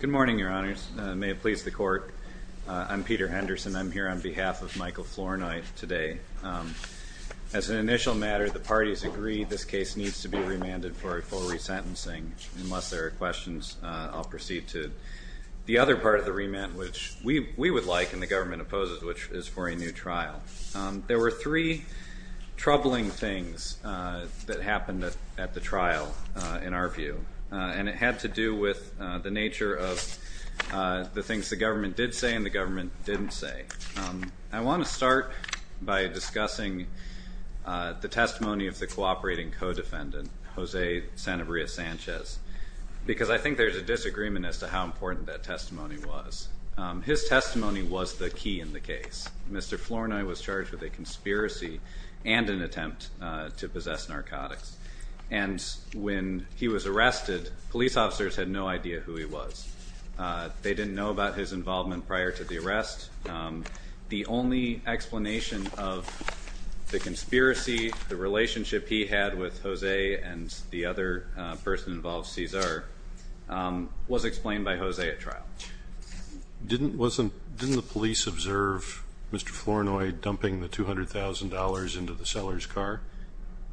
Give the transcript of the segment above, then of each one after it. Good morning, your honors. May it please the court, I'm Peter Henderson. I'm here on behalf of Michael Flournoy today. As an initial matter, the parties agree this case needs to be remanded for resentencing. And unless there are questions, I'll proceed to the other part of the remand, which we would like and the government opposes, which is for a new trial. There were three troubling things that happened at the trial, in our view, and it had to do with the nature of the things the government did say and the government didn't say. I want to start by discussing the testimony of the cooperating co-defendant, Jose Sanabria Sanchez, because I think there's a disagreement as to how important that testimony was. His testimony was the key in the case. Mr. Flournoy was charged with a conspiracy and an attempt to possess narcotics. And when he was arrested, police officers had no idea who he was. They didn't know about his involvement prior to the arrest. The only explanation of the conspiracy, the relationship he had with Jose and the other person involved, Cesar, was explained by Jose at trial. Didn't the police observe Mr. Flournoy dumping the $200,000 into the seller's car?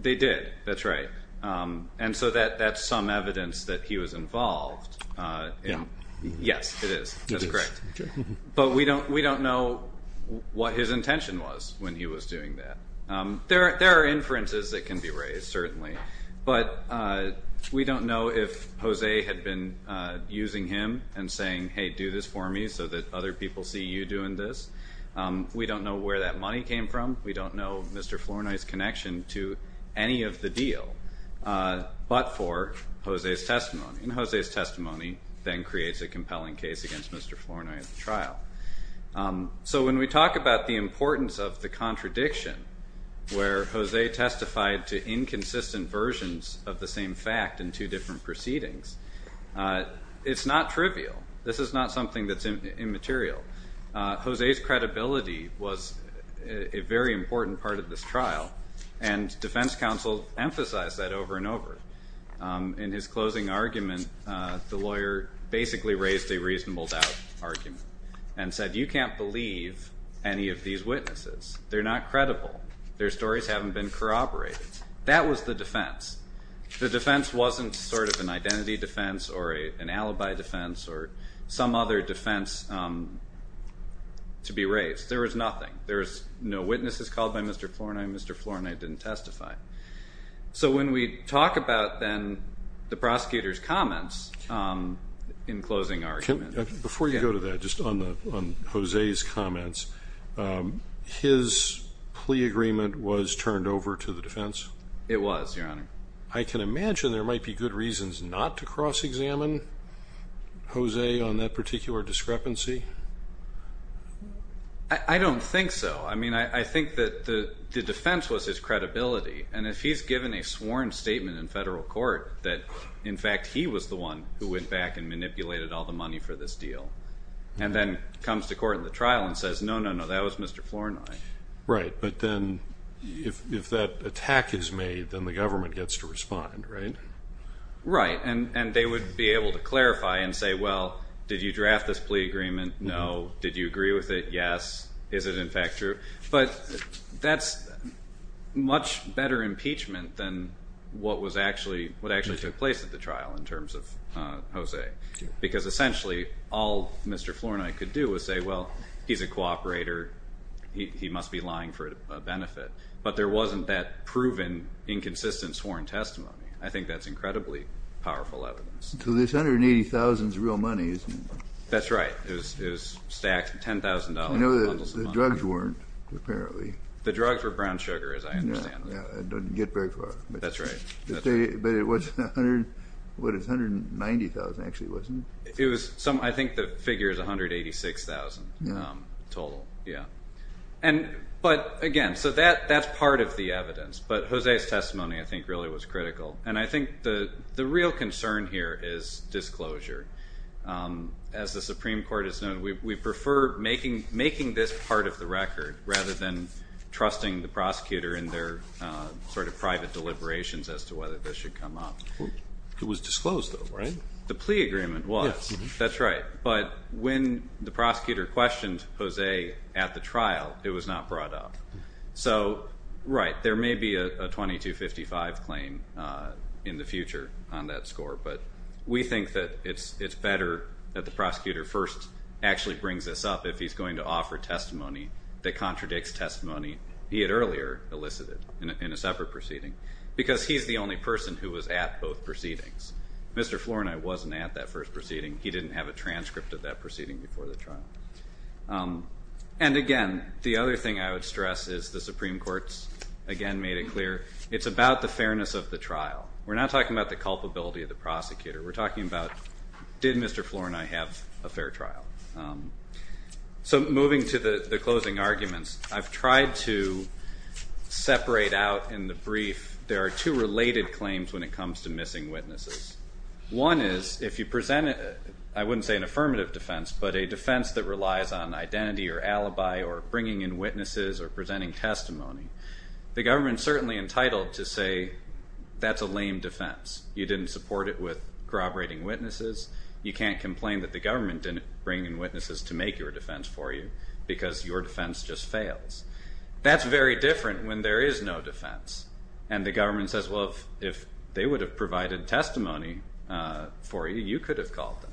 They did. That's right. And so that's some evidence that he was involved. Yes, it is. That's correct. But we don't know what his intention was when he was doing that. There are inferences that can be raised, certainly, but we don't know if Jose had been using him and saying, hey, do this for me so that other people see you doing this. We don't know where that money came from. We don't know Mr. Flournoy's connection to any of the deal but for Jose's testimony. And Jose's testimony then creates a compelling case against Mr. Flournoy at the trial. So when we talk about the importance of the contradiction where Jose testified to inconsistent versions of the same fact in two different proceedings, it's not trivial. This is not something that's immaterial. Jose's credibility was a very important part of this trial, and defense counsel emphasized that over and over. In his closing argument, the lawyer basically raised a reasonable doubt argument and said, you can't believe any of these witnesses. They're not credible. Their stories haven't been corroborated. That was the defense. The defense wasn't sort of an identity defense or an alibi defense or some other defense to be raised. There was nothing. There was no witnesses called by Mr. Flournoy, and Mr. Flournoy didn't testify. So when we talk about, then, the prosecutor's comments in closing argument. Before you go to that, just on Jose's comments, his plea agreement was turned over to the defense? It was, Your Honor. I can imagine there might be good reasons not to cross-examine Jose on that particular discrepancy. I don't think so. I mean, I think that the defense was his credibility. And if he's given a sworn statement in federal court that, in fact, he was the one who went back and manipulated all the money for this deal, and then comes to court in the trial and says, no, no, no, that was Mr. Flournoy. Right, but then if that attack is made, then the government gets to respond, right? Right, and they would be able to clarify and say, well, did you draft this plea agreement? No. Did you agree with it? Yes. Is it, in fact, true? But that's much better impeachment than what actually took place at the trial in terms of Jose, because essentially all Mr. Flournoy could do was say, well, he's a cooperator, he must be lying for a benefit. But there wasn't that proven inconsistent sworn testimony. I think that's incredibly powerful evidence. So this $180,000 is real money, isn't it? That's right. It was stacked $10,000. You know, the drugs weren't, apparently. The drugs were brown sugar, as I understand. It doesn't get very far. That's right. But it was $190,000, actually, wasn't it? I think the figure is $186,000 total, yeah. But, again, so that's part of the evidence. But Jose's testimony, I think, really was critical. And I think the real concern here is disclosure. As the Supreme Court has known, we prefer making this part of the record rather than trusting the prosecutor in their sort of private deliberations as to whether this should come up. It was disclosed, though, right? The plea agreement was. That's right. But when the prosecutor questioned Jose at the trial, it was not brought up. So, right, there may be a 2255 claim in the future on that score. But we think that it's better that the prosecutor first actually brings this up if he's going to offer testimony that contradicts testimony he had earlier elicited in a separate proceeding, because he's the only person who was at both proceedings. Mr. Flournoy wasn't at that first proceeding. He didn't have a transcript of that proceeding before the trial. And, again, the other thing I would stress is the Supreme Court's, again, made it clear. It's about the fairness of the trial. We're not talking about the culpability of the prosecutor. We're talking about did Mr. Flournoy have a fair trial. So moving to the closing arguments, I've tried to separate out in the brief, there are two related claims when it comes to missing witnesses. One is if you present, I wouldn't say an affirmative defense, but a defense that relies on identity or alibi or bringing in witnesses or presenting testimony, the government is certainly entitled to say that's a lame defense. You didn't support it with corroborating witnesses. You can't complain that the government didn't bring in witnesses to make your defense for you because your defense just fails. That's very different when there is no defense, and the government says, well, if they would have provided testimony for you, you could have called them.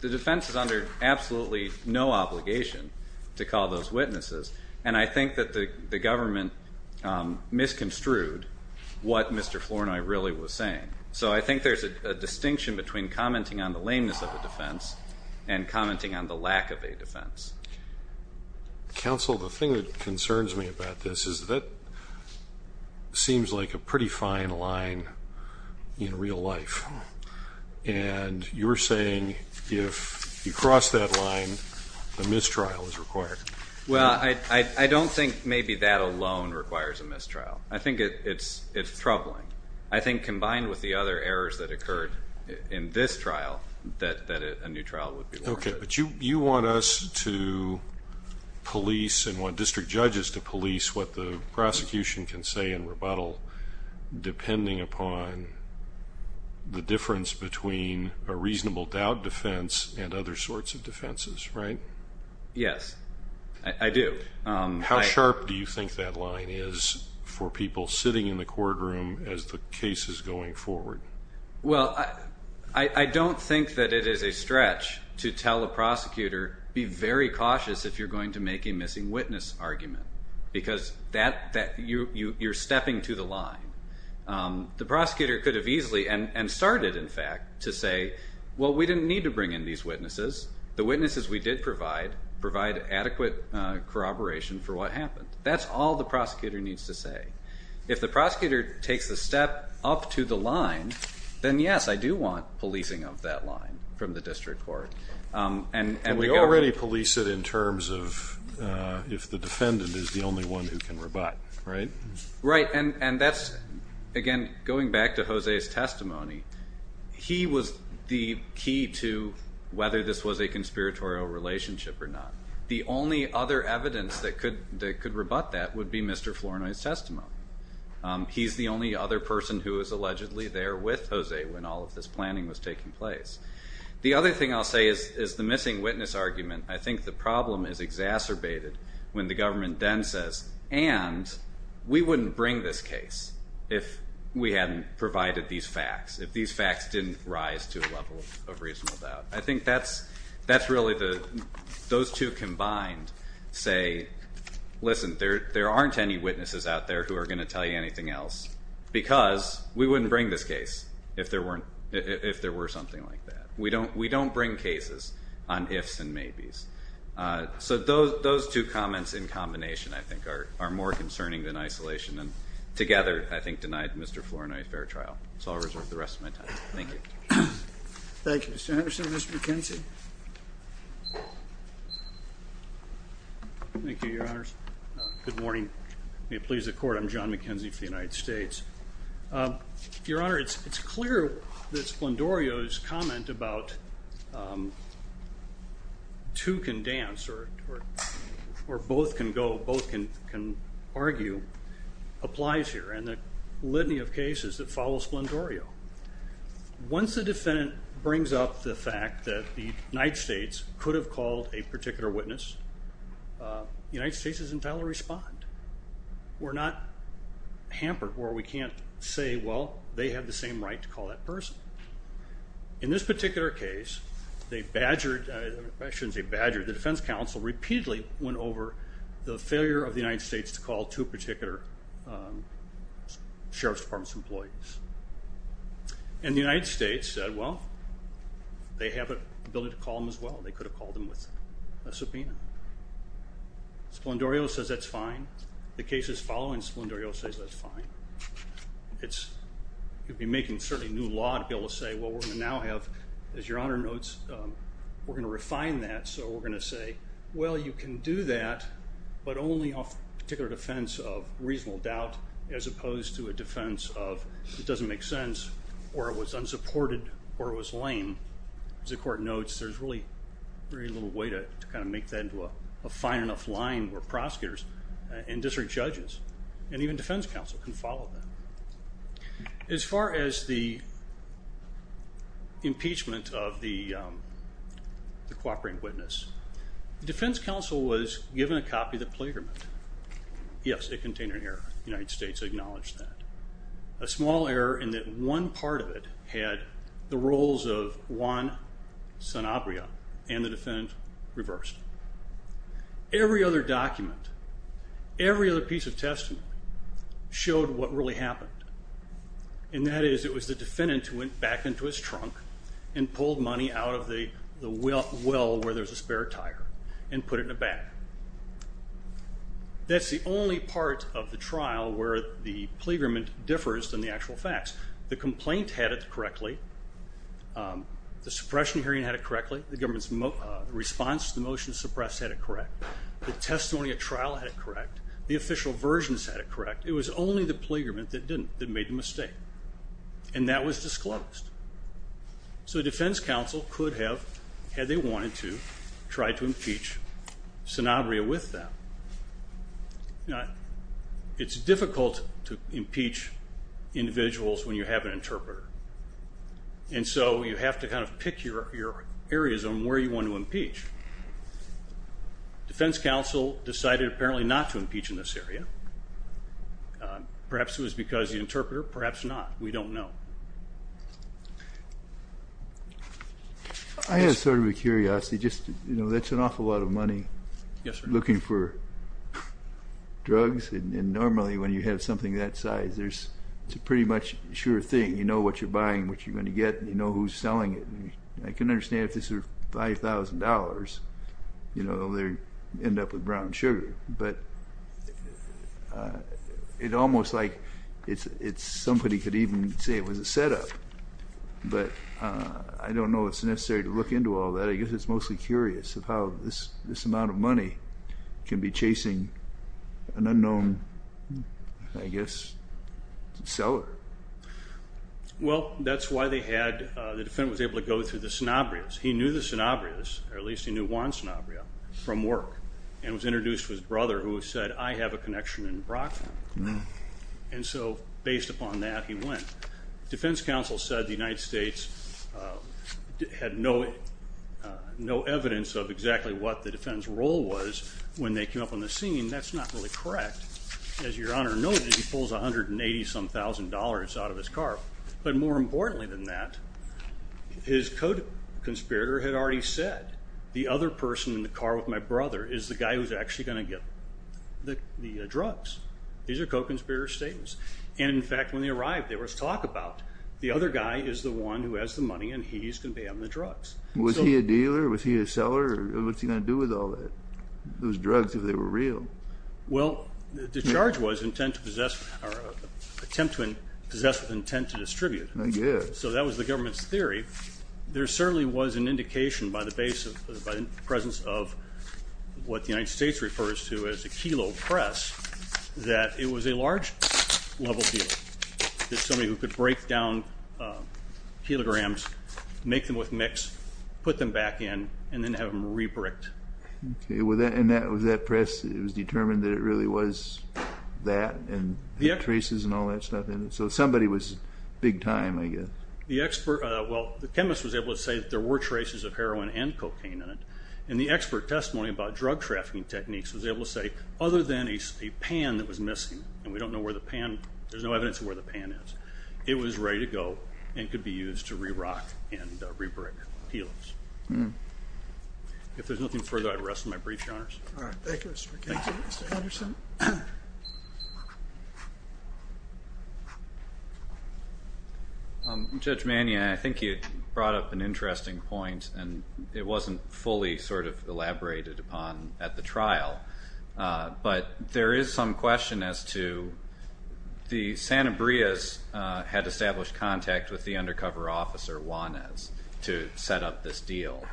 The defense is under absolutely no obligation to call those witnesses, and I think that the government misconstrued what Mr. Flournoy really was saying. So I think there's a distinction between commenting on the lameness of a defense and commenting on the lack of a defense. Counsel, the thing that concerns me about this is that seems like a pretty fine line in real life, and you're saying if you cross that line, a mistrial is required. Well, I don't think maybe that alone requires a mistrial. I think it's troubling. I think combined with the other errors that occurred in this trial that a new trial would be worth it. Okay, but you want us to police and want district judges to police what the prosecution can say in rebuttal depending upon the difference between a reasonable doubt defense and other sorts of defenses, right? Yes, I do. How sharp do you think that line is for people sitting in the courtroom as the case is going forward? Well, I don't think that it is a stretch to tell a prosecutor, be very cautious if you're going to make a missing witness argument, because you're stepping to the line. The prosecutor could have easily, and started, in fact, to say, well, we didn't need to bring in these witnesses. The witnesses we did provide provide adequate corroboration for what happened. That's all the prosecutor needs to say. If the prosecutor takes a step up to the line, then, yes, I do want policing of that line from the district court. And we already police it in terms of if the defendant is the only one who can rebut, right? Right, and that's, again, going back to Jose's testimony, he was the key to whether this was a conspiratorial relationship or not. The only other evidence that could rebut that would be Mr. Flournoy's testimony. He's the only other person who was allegedly there with Jose when all of this planning was taking place. The other thing I'll say is the missing witness argument, I think the problem is exacerbated when the government then says, and we wouldn't bring this case if we hadn't provided these facts, if these facts didn't rise to a level of reasonable doubt. I think that's really the, those two combined say, listen, there aren't any witnesses out there who are going to tell you anything else because we wouldn't bring this case if there were something like that. We don't bring cases on ifs and maybes. So those two comments in combination I think are more concerning than isolation and together I think denied Mr. Flournoy a fair trial. So I'll reserve the rest of my time. Thank you. Thank you, Mr. Anderson. Mr. McKenzie? Thank you, Your Honors. Good morning. May it please the Court, I'm John McKenzie for the United States. Your Honor, it's clear that Splendorio's comment about two can dance or both can go, both can argue applies here and the litany of cases that follow Splendorio. Once the defendant brings up the fact that the United States could have called a particular witness, the United States is entitled to respond. We're not hampered where we can't say, well, they have the same right to call that person. In this particular case, they badgered, I shouldn't say badgered, the defense counsel repeatedly went over the failure of the United States to call two particular Sheriff's Department employees. And the United States said, well, they have the ability to call them as well. They could have called them with a subpoena. Splendorio says that's fine. The cases following Splendorio says that's fine. You'd be making certainly new law to be able to say, well, we're going to now have, as Your Honor notes, we're going to refine that. So we're going to say, well, you can do that, but only off particular defense of reasonable doubt, as opposed to a defense of it doesn't make sense or it was unsupported or it was lame. As the Court notes, there's really very little way to kind of make that into a fine enough line where prosecutors and district judges and even defense counsel can follow that. As far as the impeachment of the cooperating witness, the defense counsel was given a copy of the plagiarism. Yes, it contained an error. The United States acknowledged that. A small error in that one part of it had the roles of Juan Sanabria and the defendant reversed. Every other document, every other piece of testimony showed what really happened, and that is it was the defendant who went back into his trunk and pulled money out of the well where there's a spare tire and put it in a bag. That's the only part of the trial where the plagiarism differs than the actual facts. The complaint had it correctly. The suppression hearing had it correctly. The government's response to the motion to suppress had it correct. The testimony at trial had it correct. The official versions had it correct. It was only the plagiarism that didn't, that made the mistake, and that was disclosed. So the defense counsel could have, had they wanted to, tried to impeach Sanabria with that. It's difficult to impeach individuals when you have an interpreter, and so you have to kind of pick your areas on where you want to impeach. Defense counsel decided apparently not to impeach in this area. Perhaps it was because the interpreter, perhaps not. We don't know. I have sort of a curiosity. That's an awful lot of money looking for drugs, and normally when you have something that size, it's a pretty much sure thing. You know what you're buying, what you're going to get, and you know who's selling it. I can understand if this were $5,000, they'd end up with brown sugar. But it's almost like somebody could even say it was a setup. But I don't know if it's necessary to look into all that. I guess it's mostly curious of how this amount of money can be chasing an unknown, I guess, seller. Well, that's why the defendant was able to go through the Sanabrias. He knew the Sanabrias, or at least he knew one Sanabria, from work and was introduced to his brother who said, I have a connection in Brockville. And so based upon that, he went. Defense counsel said the United States had no evidence of exactly what the defendant's role was when they came up on the scene. That's not really correct. As Your Honor noted, he pulls $180-some-thousand out of his car. But more importantly than that, his co-conspirator had already said, the other person in the car with my brother is the guy who's actually going to get the drugs. These are co-conspirator statements. And, in fact, when they arrived, there was talk about the other guy is the one who has the money and he's going to be having the drugs. Was he a dealer? Was he a seller? What's he going to do with all those drugs if they were real? Well, the charge was intent to possess or attempt to possess with intent to distribute. So that was the government's theory. There certainly was an indication by the presence of what the United States refers to as a kilo press that it was a large-level dealer. There's somebody who could break down kilograms, make them with mix, put them back in, and then have them re-bricked. Was that press determined that it really was that, and traces and all that stuff in it? So somebody was big time, I guess. Well, the chemist was able to say that there were traces of heroin and cocaine in it. And the expert testimony about drug trafficking techniques was able to say, other than a pan that was missing, and we don't know where the pan, there's no evidence of where the pan is, it was ready to go and could be used to re-rock and re-brick kilos. If there's nothing further, I'd rest my brief, Your Honors. All right. Thank you, Mr. McKinney. Thank you, Mr. Henderson. Judge Mannion, I think you brought up an interesting point, and it wasn't fully sort of elaborated upon at the trial. But there is some question as to the Santa Brias had established contact with the undercover officer, Juanez, to set up this deal.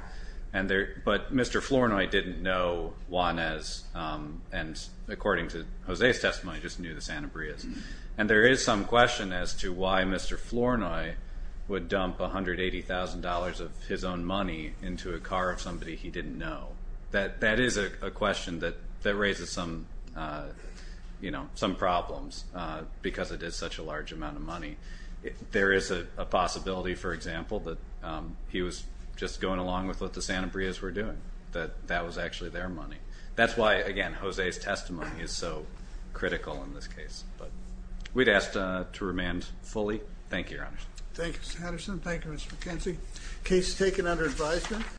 But Mr. Flournoy didn't know Juanez, and according to Jose's testimony, just knew the Santa Brias. And there is some question as to why Mr. Flournoy would dump $180,000 of his own money into a car of somebody he didn't know. That is a question that raises some problems, because it is such a large amount of money. There is a possibility, for example, that he was just going along with what the Santa Brias were doing, that that was actually their money. That's why, again, Jose's testimony is so critical in this case. But we'd ask to remand fully. Thank you, Your Honors. Thanks, Mr. Henderson. Thank you, Mr. McKenzie. Case is taken under advisement.